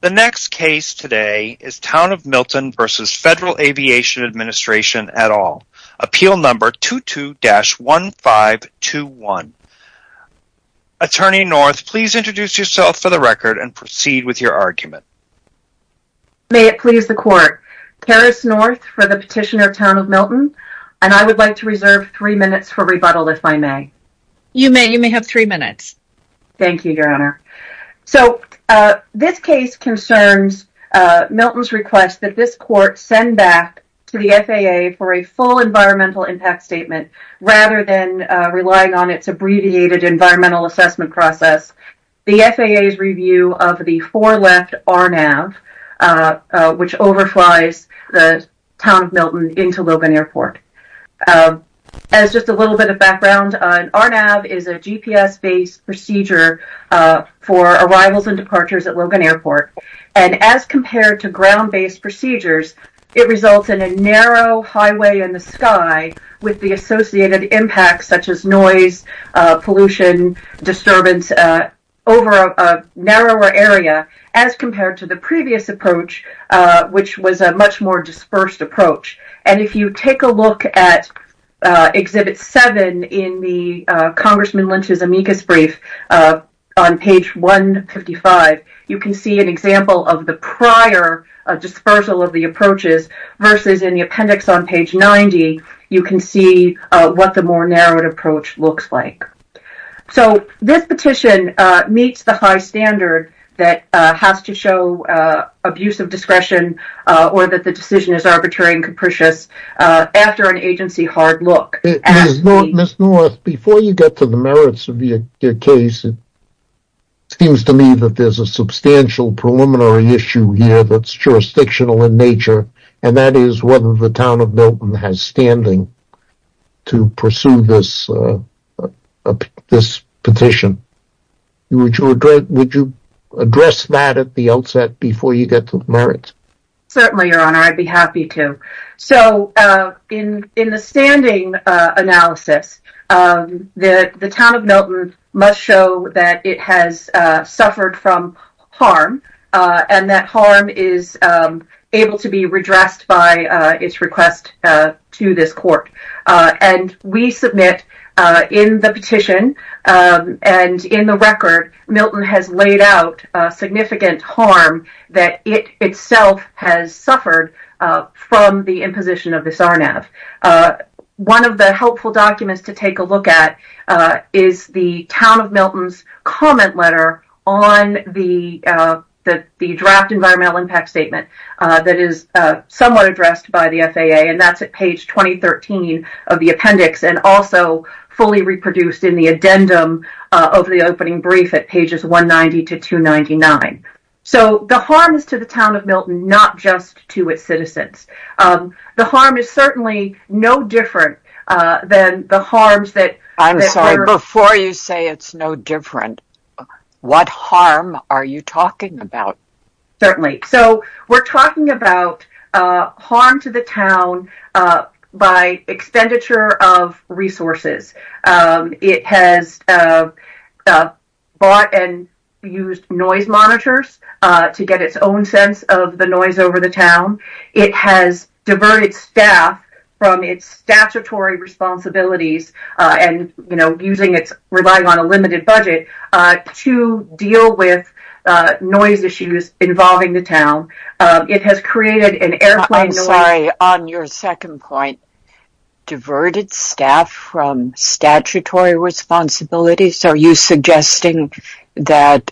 The next case today is Town of Milton v. Federal Aviation Administration et al. Appeal number 22-1521 Attorney North, please introduce yourself for the record and proceed with your argument. May it please the court. Paris North for the petitioner of Town of Milton and I would like to reserve three minutes for rebuttal if I may. You may. You may have three minutes. Thank you, Your Honor. So, this case concerns Milton's request that this court send back to the FAA for a full environmental impact statement rather than relying on its abbreviated environmental assessment process. The FAA's review of the four-left RNAV, which overflies the Town of Milton into Logan Airport. As just a little bit of background, an RNAV is a GPS-based procedure for arrivals and departures at Logan Airport. And as compared to ground-based procedures, it results in a narrow highway in the sky with the associated impacts such as noise, pollution, disturbance over a narrower area as compared to the previous approach, which was a much more dispersed approach. And if you take a look at Exhibit 7 in the Congressman Lynch's amicus brief on page 155, you can see an example of the prior dispersal of the approaches versus in the appendix on page 90, you can see what the more narrowed approach looks like. So, this petition meets the high standard that has to show abuse of discretion or that the decision is arbitrary and capricious after an agency hard look. Ms. North, before you get to the merits of your case, it seems to me that there's a substantial preliminary issue here that's jurisdictional in nature, and that is whether the Town of Milton has standing to pursue this petition. Would you address that at the outset before you get to the merits? Certainly, Your Honor. I'd be happy to. So, in the standing analysis, the Town of Milton must show that it has suffered from harm and that harm is able to be redressed by its request to this court. And we submit in the petition and in the record, Milton has laid out significant harm that it itself has suffered from the imposition of this RNAV. One of the helpful documents to take a look at is the Town of Milton's comment letter on the draft environmental impact statement that is somewhat addressed by the FAA, and that's at page 2013 of the appendix, and also fully reproduced in the addendum of the opening brief at pages 190 to 299. So, the harm is to the Town of Milton, not just to its citizens. The harm is certainly no different than the harms that... I'm sorry, before you say it's no different, what harm are you talking about? Certainly. So, we're talking about harm to the town by expenditure of resources. It has bought and used noise monitors to get its own sense of the noise over the town. It has diverted staff from its statutory responsibilities and, you know, relying on a limited budget to deal with noise issues involving the town. It has created an airplane noise... I'm sorry, on your second point, diverted staff from statutory responsibilities? Are you suggesting that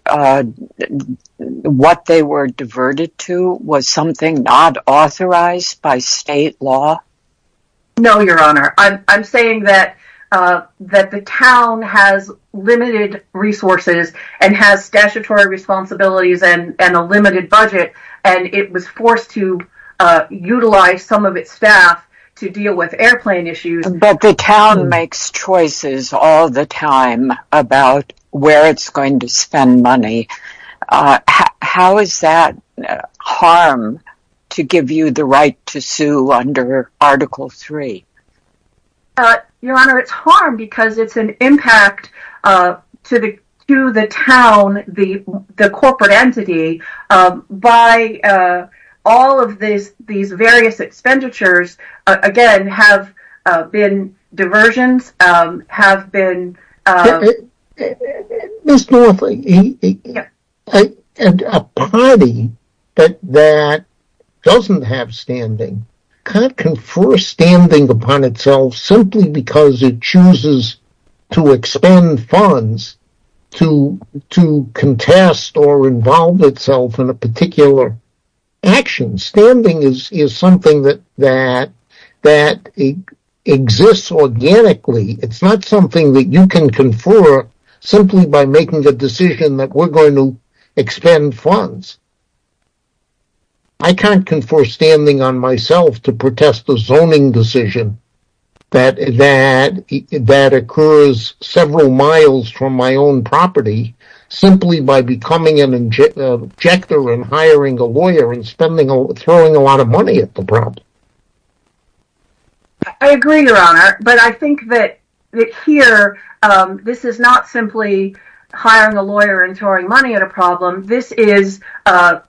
what they were diverted to was something not authorized by state law? No, Your Honor. I'm saying that the town has limited resources and has statutory responsibilities and a limited budget, and it was forced to utilize some of its staff to deal with airplane issues. But the town makes choices all the time about where it's going to spend money. How is that harm to give you the right to sue under Article 3? Your Honor, it's harm because it's an impact to the town, the corporate entity, by all of these various expenditures, again, have been diversions, have been... Ms. North, a party that doesn't have standing can't confer standing upon itself simply because it chooses to expend funds to contest or involve itself in a particular action. Standing is something that exists organically. It's not something that you can confer simply by making the decision that we're going to expend funds. I can't confer standing on myself to protest the zoning decision that occurs several miles from my own property simply by becoming an objector and hiring a lawyer and throwing a lot of money at the problem. I agree, Your Honor, but I think that here, this is not simply hiring a lawyer and throwing money at a problem. This is an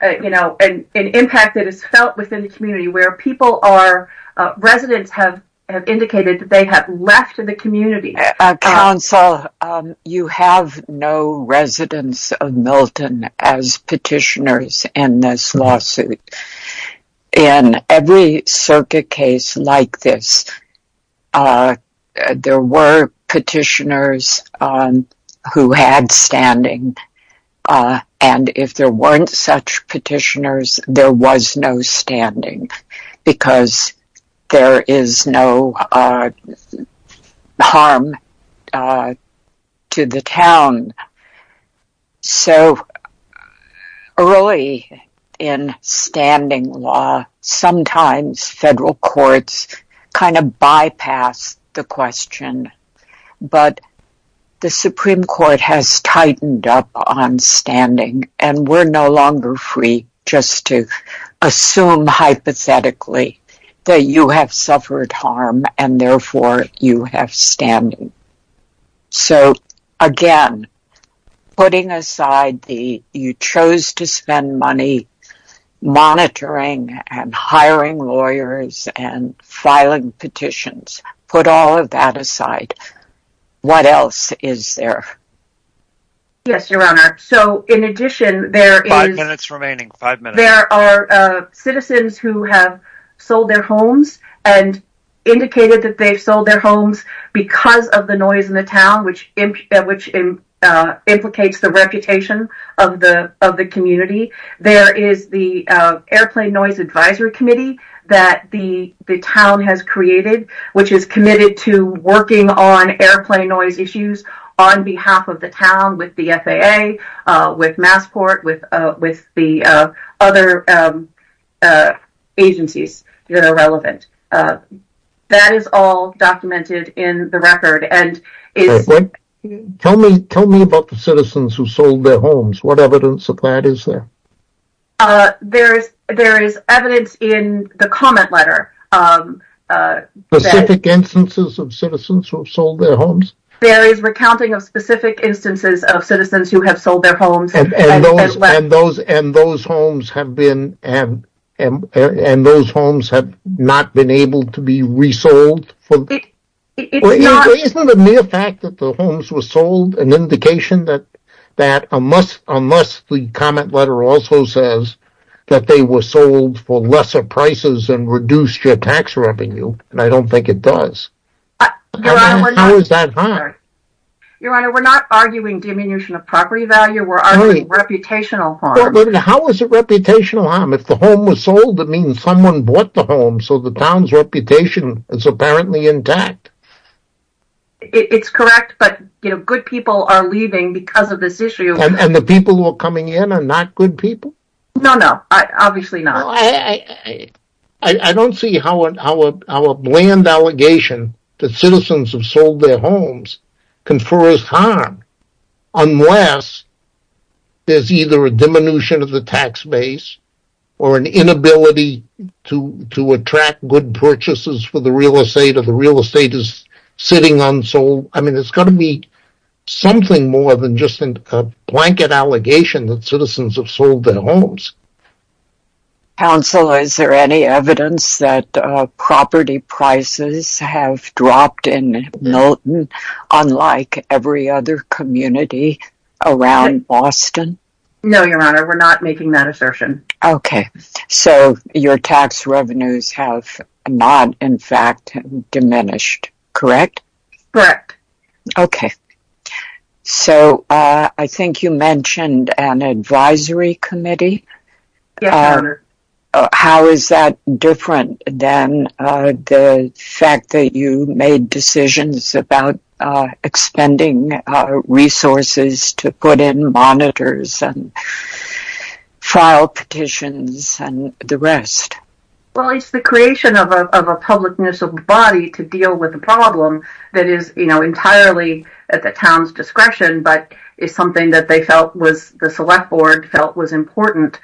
impact that is felt within the community where residents have indicated that they have left the community. Counsel, you have no residents of Milton as petitioners in this lawsuit. In every circuit case like this, there were petitioners who had standing, and if there weren't such petitioners, there was no standing because there is no harm to the town. So early in standing law, sometimes federal courts kind of bypass the question, but the Supreme Court has tightened up on standing, and we're no longer free just to assume hypothetically that you have suffered harm and therefore you have standing. So again, putting aside the, you chose to spend money monitoring and hiring lawyers and filing petitions, put all of that aside. What else is there? Yes, Your Honor. So in addition, there are citizens who have sold their homes and indicated that they've sold their homes because of the noise in the town, which implicates the reputation of the community. There is the Airplane Noise Advisory Committee that the town has created, which is committed to working on airplane noise issues on behalf of the town with the FAA, with Massport, with the other agencies that are relevant. That is all documented in the record. Tell me about the citizens who sold their homes. What evidence of that is there? There is evidence in the comment letter. Specific instances of citizens who have sold their homes? There is recounting of specific instances of citizens who have sold their homes. And those homes have not been able to be resold? Isn't it a mere fact that the homes were sold, an indication that unless the comment letter also says that they were sold for lesser prices and reduced your tax revenue, and I don't think it does, how is that hard? Your Honor, we're not arguing diminution of property value. We're arguing reputational harm. How is it reputational harm? If the home was sold, it means someone bought the home, so the town's reputation is apparently intact. It's correct, but good people are leaving because of this issue. And the people who are coming in are not good people? No, no, obviously not. Unless there's either a diminution of the tax base or an inability to attract good purchases for the real estate, or the real estate is sitting unsold. I mean, it's got to be something more than just a blanket allegation that citizens have sold their homes. Counsel, is there any evidence that property prices have dropped in Milton? Unlike every other community around Boston? No, Your Honor, we're not making that assertion. Okay, so your tax revenues have not in fact diminished, correct? Correct. Okay, so I think you mentioned an advisory committee? Yes, Your Honor. How is that different than the fact that you made decisions about expending resources to put in monitors and file petitions and the rest? Well, it's the creation of a public municipal body to deal with a problem that is entirely at the town's discretion, but is something that the select board felt was important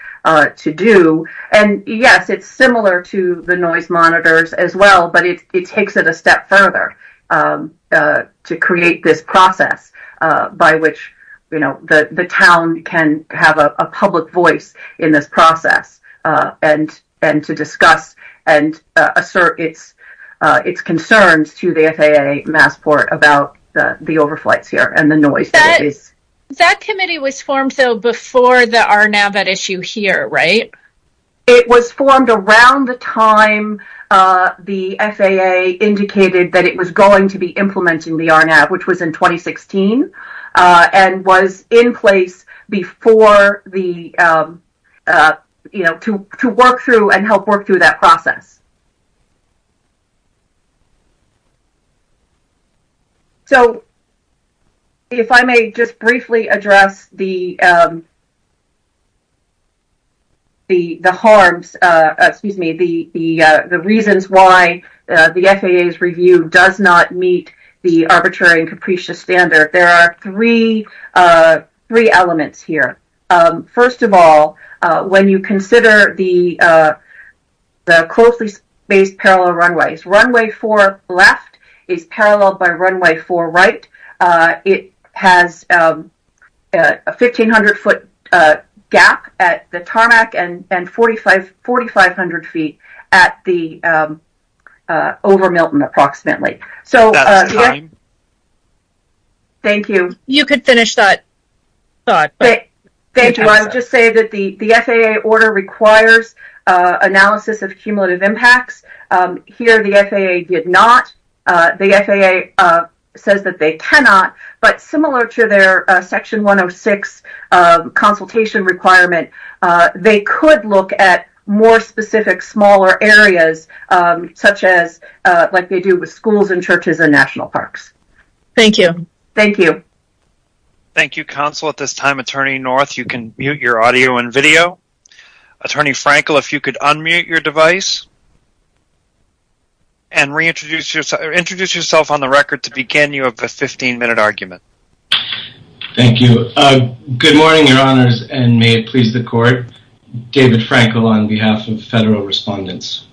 to do. And, yes, it's similar to the noise monitors as well, but it takes it a step further to create this process by which the town can have a public voice in this process and to discuss and assert its concerns to the FAA Massport about the overflights here and the noise. That committee was formed, though, before the RNAV at issue here, right? It was formed around the time the FAA indicated that it was going to be implementing the RNAV, which was in 2016, and was in place before the, you know, to work through and help work through that process. So if I may just briefly address the harms, excuse me, the reasons why the FAA's review does not meet the arbitrary and capricious standard, there are three elements here. First of all, when you consider the closely spaced parallel runways, runway four left is paralleled by runway four right. It has a 1,500-foot gap at the tarmac and 4,500 feet at the over Milton approximately. Okay. Thank you. You could finish that thought. Thank you. I'll just say that the FAA order requires analysis of cumulative impacts. Here the FAA did not. The FAA says that they cannot, but similar to their Section 106 consultation requirement, they could look at more specific smaller areas, such as like they do with schools and churches and national parks. Thank you. Thank you. Thank you, Counsel. At this time, Attorney North, you can mute your audio and video. Attorney Frankel, if you could unmute your device and reintroduce yourself on the record to begin your 15-minute argument. Good morning, Your Honors, and may it please the Court. David Frankel on behalf of Federal Respondents.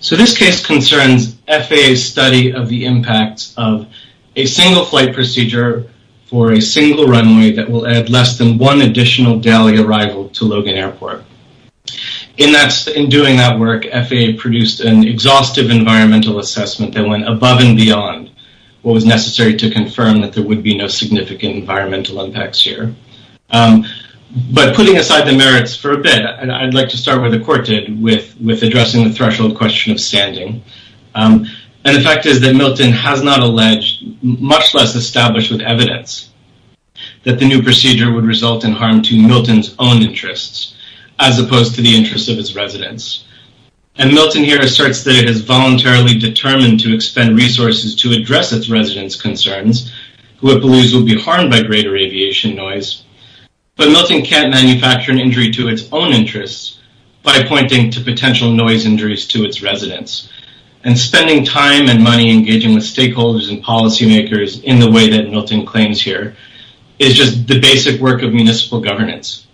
So this case concerns FAA's study of the impacts of a single flight procedure for a single runway that will add less than one additional daily arrival to Logan Airport. In doing that work, FAA produced an exhaustive environmental assessment that went above and beyond what was necessary to confirm that there would be no significant environmental impacts here. But putting aside the merits for a bit, I'd like to start where the Court did with addressing the threshold question of standing. And the fact is that Milton has not alleged, much less established with evidence, that the new procedure would result in harm to Milton's own interests as opposed to the interests of its residents. And Milton here asserts that it is voluntarily determined to expend resources to address its residents' concerns, who it believes will be harmed by greater aviation noise. But Milton can't manufacture an injury to its own interests by pointing to potential noise injuries to its residents. And spending time and money engaging with stakeholders and policymakers in the way that Milton claims here is just the basic work of municipal governance.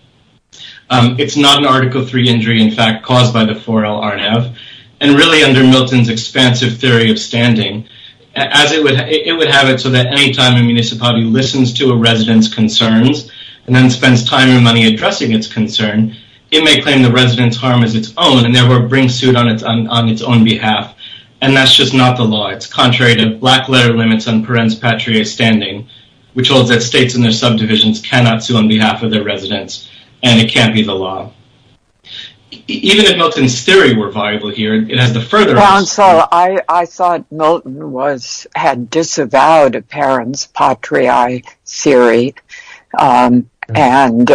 It's not an Article III injury, in fact, caused by the 4L RNAV. And really, under Milton's expansive theory of standing, it would have it so that any time a municipality listens to a resident's concerns and then spends time and money addressing its concern, it may claim the resident's harm as its own, and therefore bring suit on its own behalf. And that's just not the law. It's contrary to black-letter limits on parens patriae standing, which holds that states and their subdivisions cannot sue on behalf of their residents. And it can't be the law. Even if Milton's theory were viable here, it has the further... Well, Ansel, I thought Milton had disavowed a parens patriae theory. And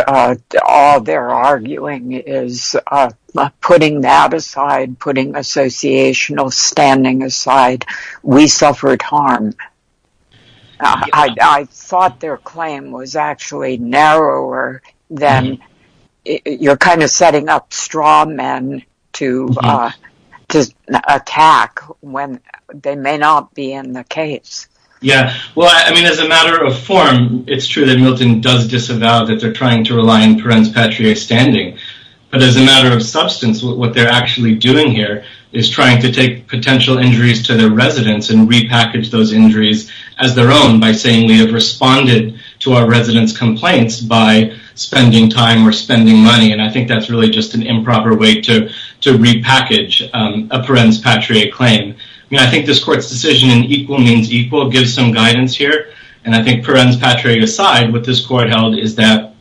all they're arguing is putting that aside, putting associational standing aside. We suffered harm. I thought their claim was actually narrower than... You're kind of setting up straw men to attack when they may not be in the case. Yeah. Well, I mean, as a matter of form, it's true that Milton does disavow that they're trying to rely on parens patriae standing. But as a matter of substance, what they're actually doing here is trying to take potential injuries to their residents and repackage those injuries as their own by saying, to our residents' complaints by spending time or spending money. And I think that's really just an improper way to repackage a parens patriae claim. I mean, I think this court's decision in equal means equal gives some guidance here. And I think parens patriae aside, what this court held is that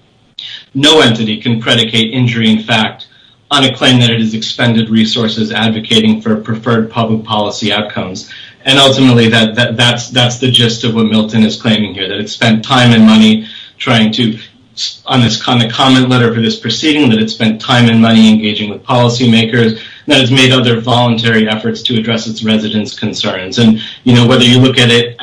no entity can predicate injury in fact on a claim that it has expended resources advocating for preferred public policy outcomes. And ultimately, that's the gist of what Milton is claiming here, that it spent time and money trying to... On the comment letter for this proceeding, that it spent time and money engaging with policymakers, that it's made other voluntary efforts to address its residents' concerns. And whether you look at it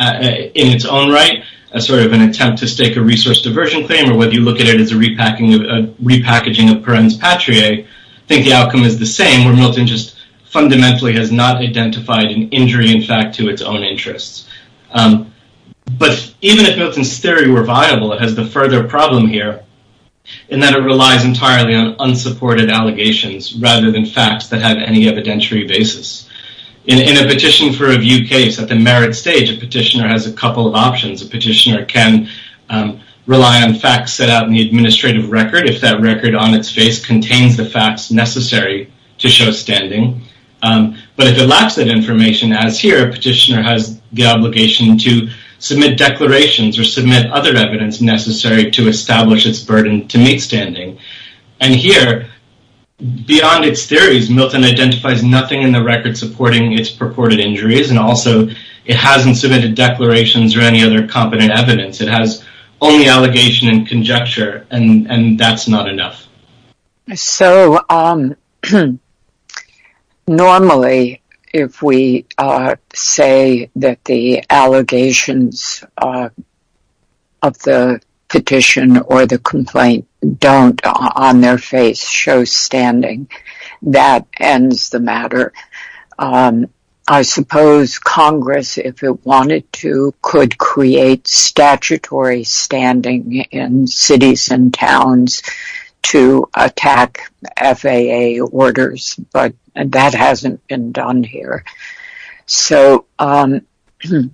in its own right as sort of an attempt to stake a resource diversion claim or whether you look at it as a repackaging of parens patriae, I think the outcome is the same, where Milton just fundamentally has not identified an injury in fact to its own interests. But even if Milton's theory were viable, it has the further problem here in that it relies entirely on unsupported allegations rather than facts that have any evidentiary basis. In a petition for review case, at the merit stage, a petitioner has a couple of options. A petitioner can rely on facts set out in the administrative record if that record on its face contains the facts necessary to show standing. But if it lacks that information, as here, a petitioner has the obligation to submit declarations or submit other evidence necessary to establish its burden to meet standing. And here, beyond its theories, Milton identifies nothing in the record supporting its purported injuries. And also, it hasn't submitted declarations or any other competent evidence. It has only allegation and conjecture. And that's not enough. So, normally, if we say that the allegations of the petition or the complaint don't on their face show standing, that ends the matter. I suppose Congress, if it wanted to, could create statutory standing in cities and towns to attack FAA orders. But that hasn't been done here. So, given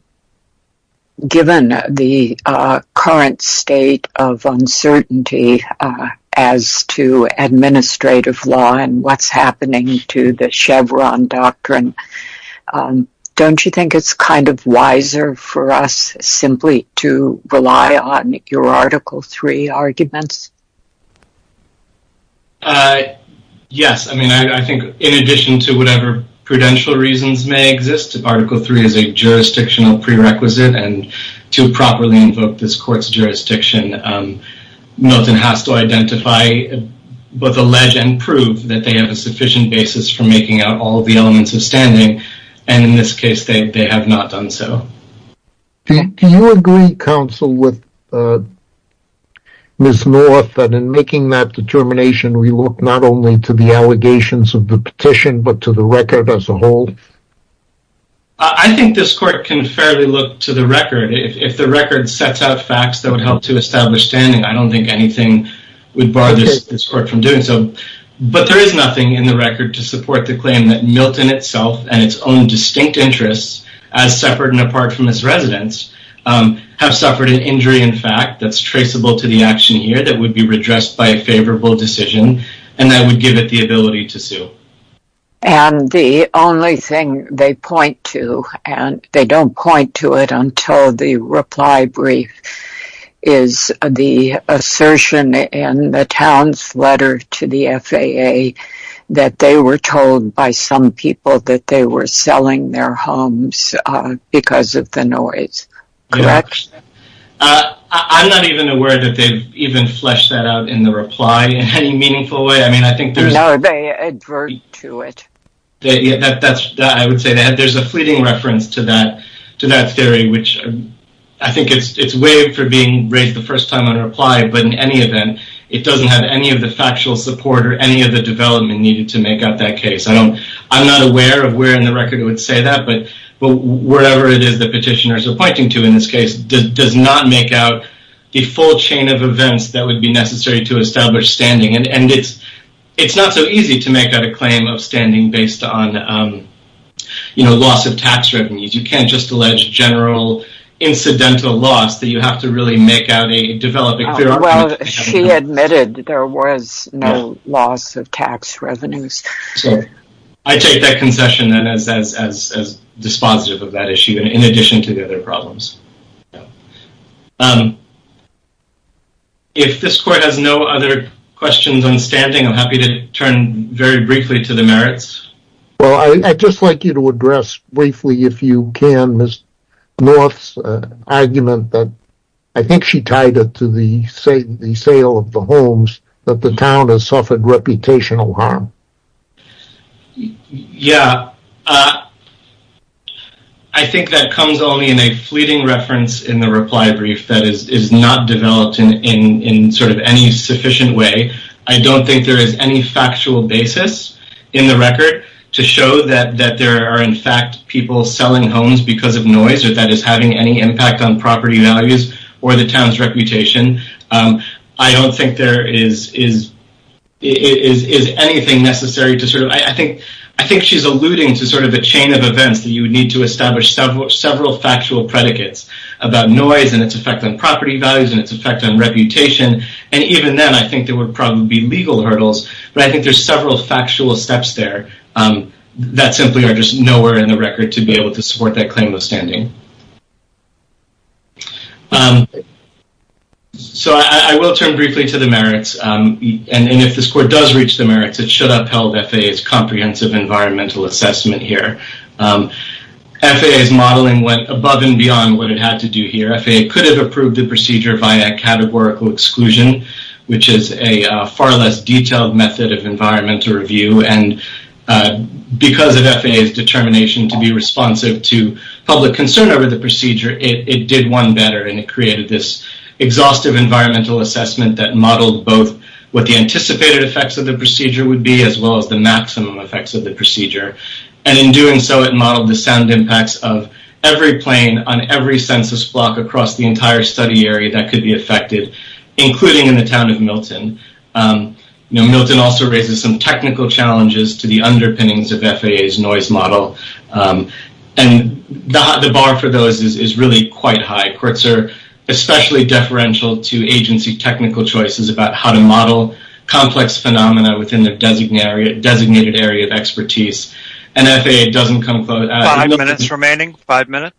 the current state of uncertainty as to administrative law and what's happening to the Chevron doctrine, don't you think it's kind of wiser for us simply to rely on your Article III arguments? Yes. I mean, I think in addition to whatever prudential reasons may exist, Article III is a jurisdictional prerequisite. And to properly invoke this court's jurisdiction, Milton has to identify, both allege and prove, that they have a sufficient basis for making out all the elements of standing. And in this case, they have not done so. Do you agree, counsel, with Ms. North, that in making that determination we look not only to the allegations of the petition, but to the record as a whole? I think this court can fairly look to the record. If the record sets out facts that would help to establish standing, I don't think anything would bar this court from doing so. But there is nothing in the record to support the claim that Milton itself and its own distinct interests, as separate and apart from its residents, have suffered an injury in fact that's traceable to the action here that would be redressed by a favorable decision and that would give it the ability to sue. And the only thing they point to, and they don't point to it until the reply brief, is the assertion in the town's letter to the FAA that they were told by some people that they were selling their homes because of the noise. Correct? I'm not even aware that they've even fleshed that out in the reply in any meaningful way. No, they advert to it. I would say that there's a fleeting reference to that theory, which I think it's waived for being raised the first time on a reply, but in any event, it doesn't have any of the factual support or any of the development needed to make out that case. I'm not aware of where in the record it would say that, but wherever it is the petitioners are pointing to in this case does not make out the full chain of events that would be necessary to establish standing. And it's not so easy to make out a claim of standing based on loss of tax revenues. You can't just allege general incidental loss. You have to really make out a development. Well, she admitted there was no loss of tax revenues. I take that concession then as dispositive of that issue in addition to the other problems. If this court has no other questions on standing, I'm happy to turn very briefly to the merits. Well, I'd just like you to address briefly, if you can, Ms. North's argument that I think she tied it to the sale of the homes that the town has suffered reputational harm. Yeah. I think that comes only in a fleeting reference in the reply brief that is not developed in sort of any sufficient way. I don't think there is any factual basis in the record to show that there are, in fact, people selling homes because of noise or that is having any impact on property values or the town's reputation. I don't think there is anything necessary to sort of— I think she's alluding to sort of a chain of events that you would need to establish several factual predicates about noise and its effect on property values and its effect on reputation. And even then, I think there would probably be legal hurdles. But I think there's several factual steps there that simply are just nowhere in the record to be able to support that claim of standing. So I will turn briefly to the merits. And if this court does reach the merits, it should upheld FAA's comprehensive environmental assessment here. FAA's modeling went above and beyond what it had to do here. FAA could have approved the procedure via categorical exclusion, which is a far less detailed method of environmental review. And because of FAA's determination to be responsive to public concern over the procedure, it did one better, and it created this exhaustive environmental assessment that modeled both what the anticipated effects of the procedure would be as well as the maximum effects of the procedure. And in doing so, it modeled the sound impacts of every plane on every census block across the entire study area that could be affected, including in the town of Milton. Milton also raises some technical challenges to the underpinnings of FAA's noise model. And the bar for those is really quite high. Courts are especially deferential to agency technical choices about how to model complex phenomena within their designated area of expertise. And FAA doesn't come close. Five minutes remaining. Five minutes.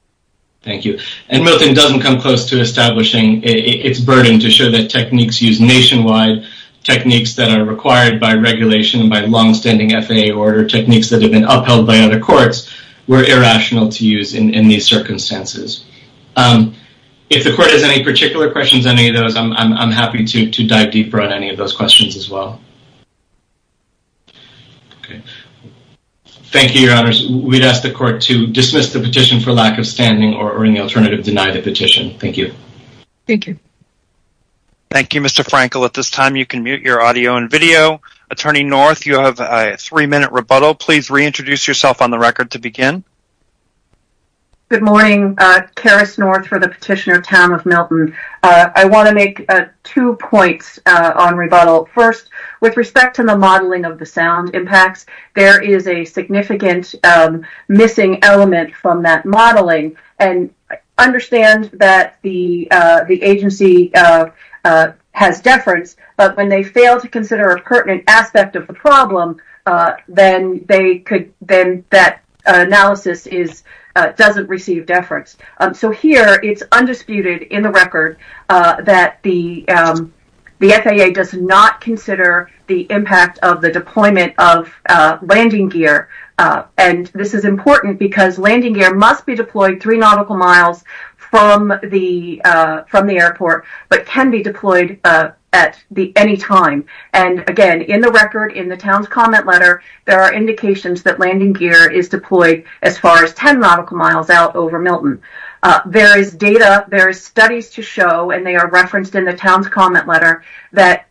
Thank you. And Milton doesn't come close to establishing its burden to show that techniques used nationwide, techniques that are required by regulation and by longstanding FAA order, techniques that have been upheld by other courts, were irrational to use in these circumstances. If the court has any particular questions on any of those, I'm happy to dive deeper on any of those questions as well. Thank you, Your Honors. We'd ask the court to dismiss the petition for lack of standing or, in the alternative, deny the petition. Thank you. Thank you. Thank you, Mr. Frankel. At this time, you can mute your audio and video. Attorney North, you have a three-minute rebuttal. Please reintroduce yourself on the record to begin. Good morning. Karis North for the petitioner, Tam of Milton. I want to make two points on rebuttal. First, with respect to the modeling of the sound impacts, there is a significant missing element from that modeling. And I understand that the agency has deference, but when they fail to consider a pertinent aspect of the problem, then that analysis doesn't receive deference. So here, it's undisputed in the record that the FAA does not consider the impact of the deployment of landing gear. And this is important because landing gear must be deployed three nautical miles from the airport, but can be deployed at any time. And, again, in the record, in the town's comment letter, there are indications that landing gear is deployed as far as 10 nautical miles out over Milton. There is data, there is studies to show, and they are referenced in the town's comment letter, that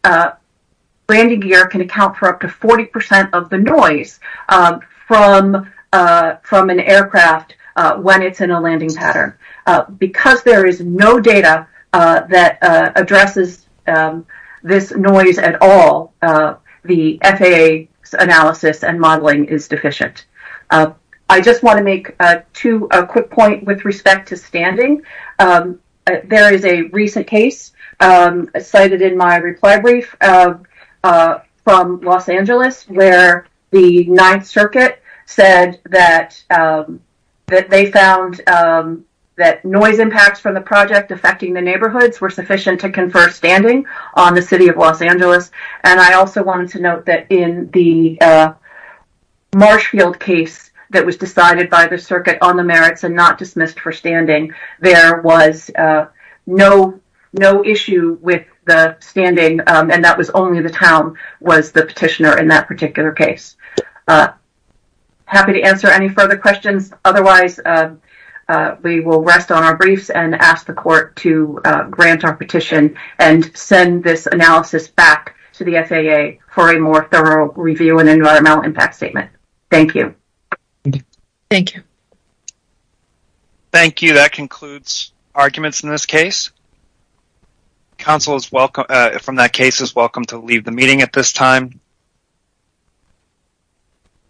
landing gear can account for up to 40% of the noise from an aircraft when it's in a landing pattern. Because there is no data that addresses this noise at all, the FAA's analysis and modeling is deficient. I just want to make two quick points with respect to standing. There is a recent case cited in my reply brief from Los Angeles where the Ninth Circuit said that they found that noise impacts from the project affecting the neighborhoods were sufficient to confer standing on the city of Los Angeles. And I also wanted to note that in the Marshfield case that was decided by the circuit on the merits and not dismissed for standing, there was no issue with the standing, and that was only the town was the petitioner in that particular case. Happy to answer any further questions. Otherwise, we will rest on our briefs and ask the court to grant our petition and send this analysis back to the FAA for a more thorough review and environmental impact statement. Thank you. Thank you. Thank you. That concludes arguments in this case. Counsel, from that case, is welcome to leave the meeting at this time.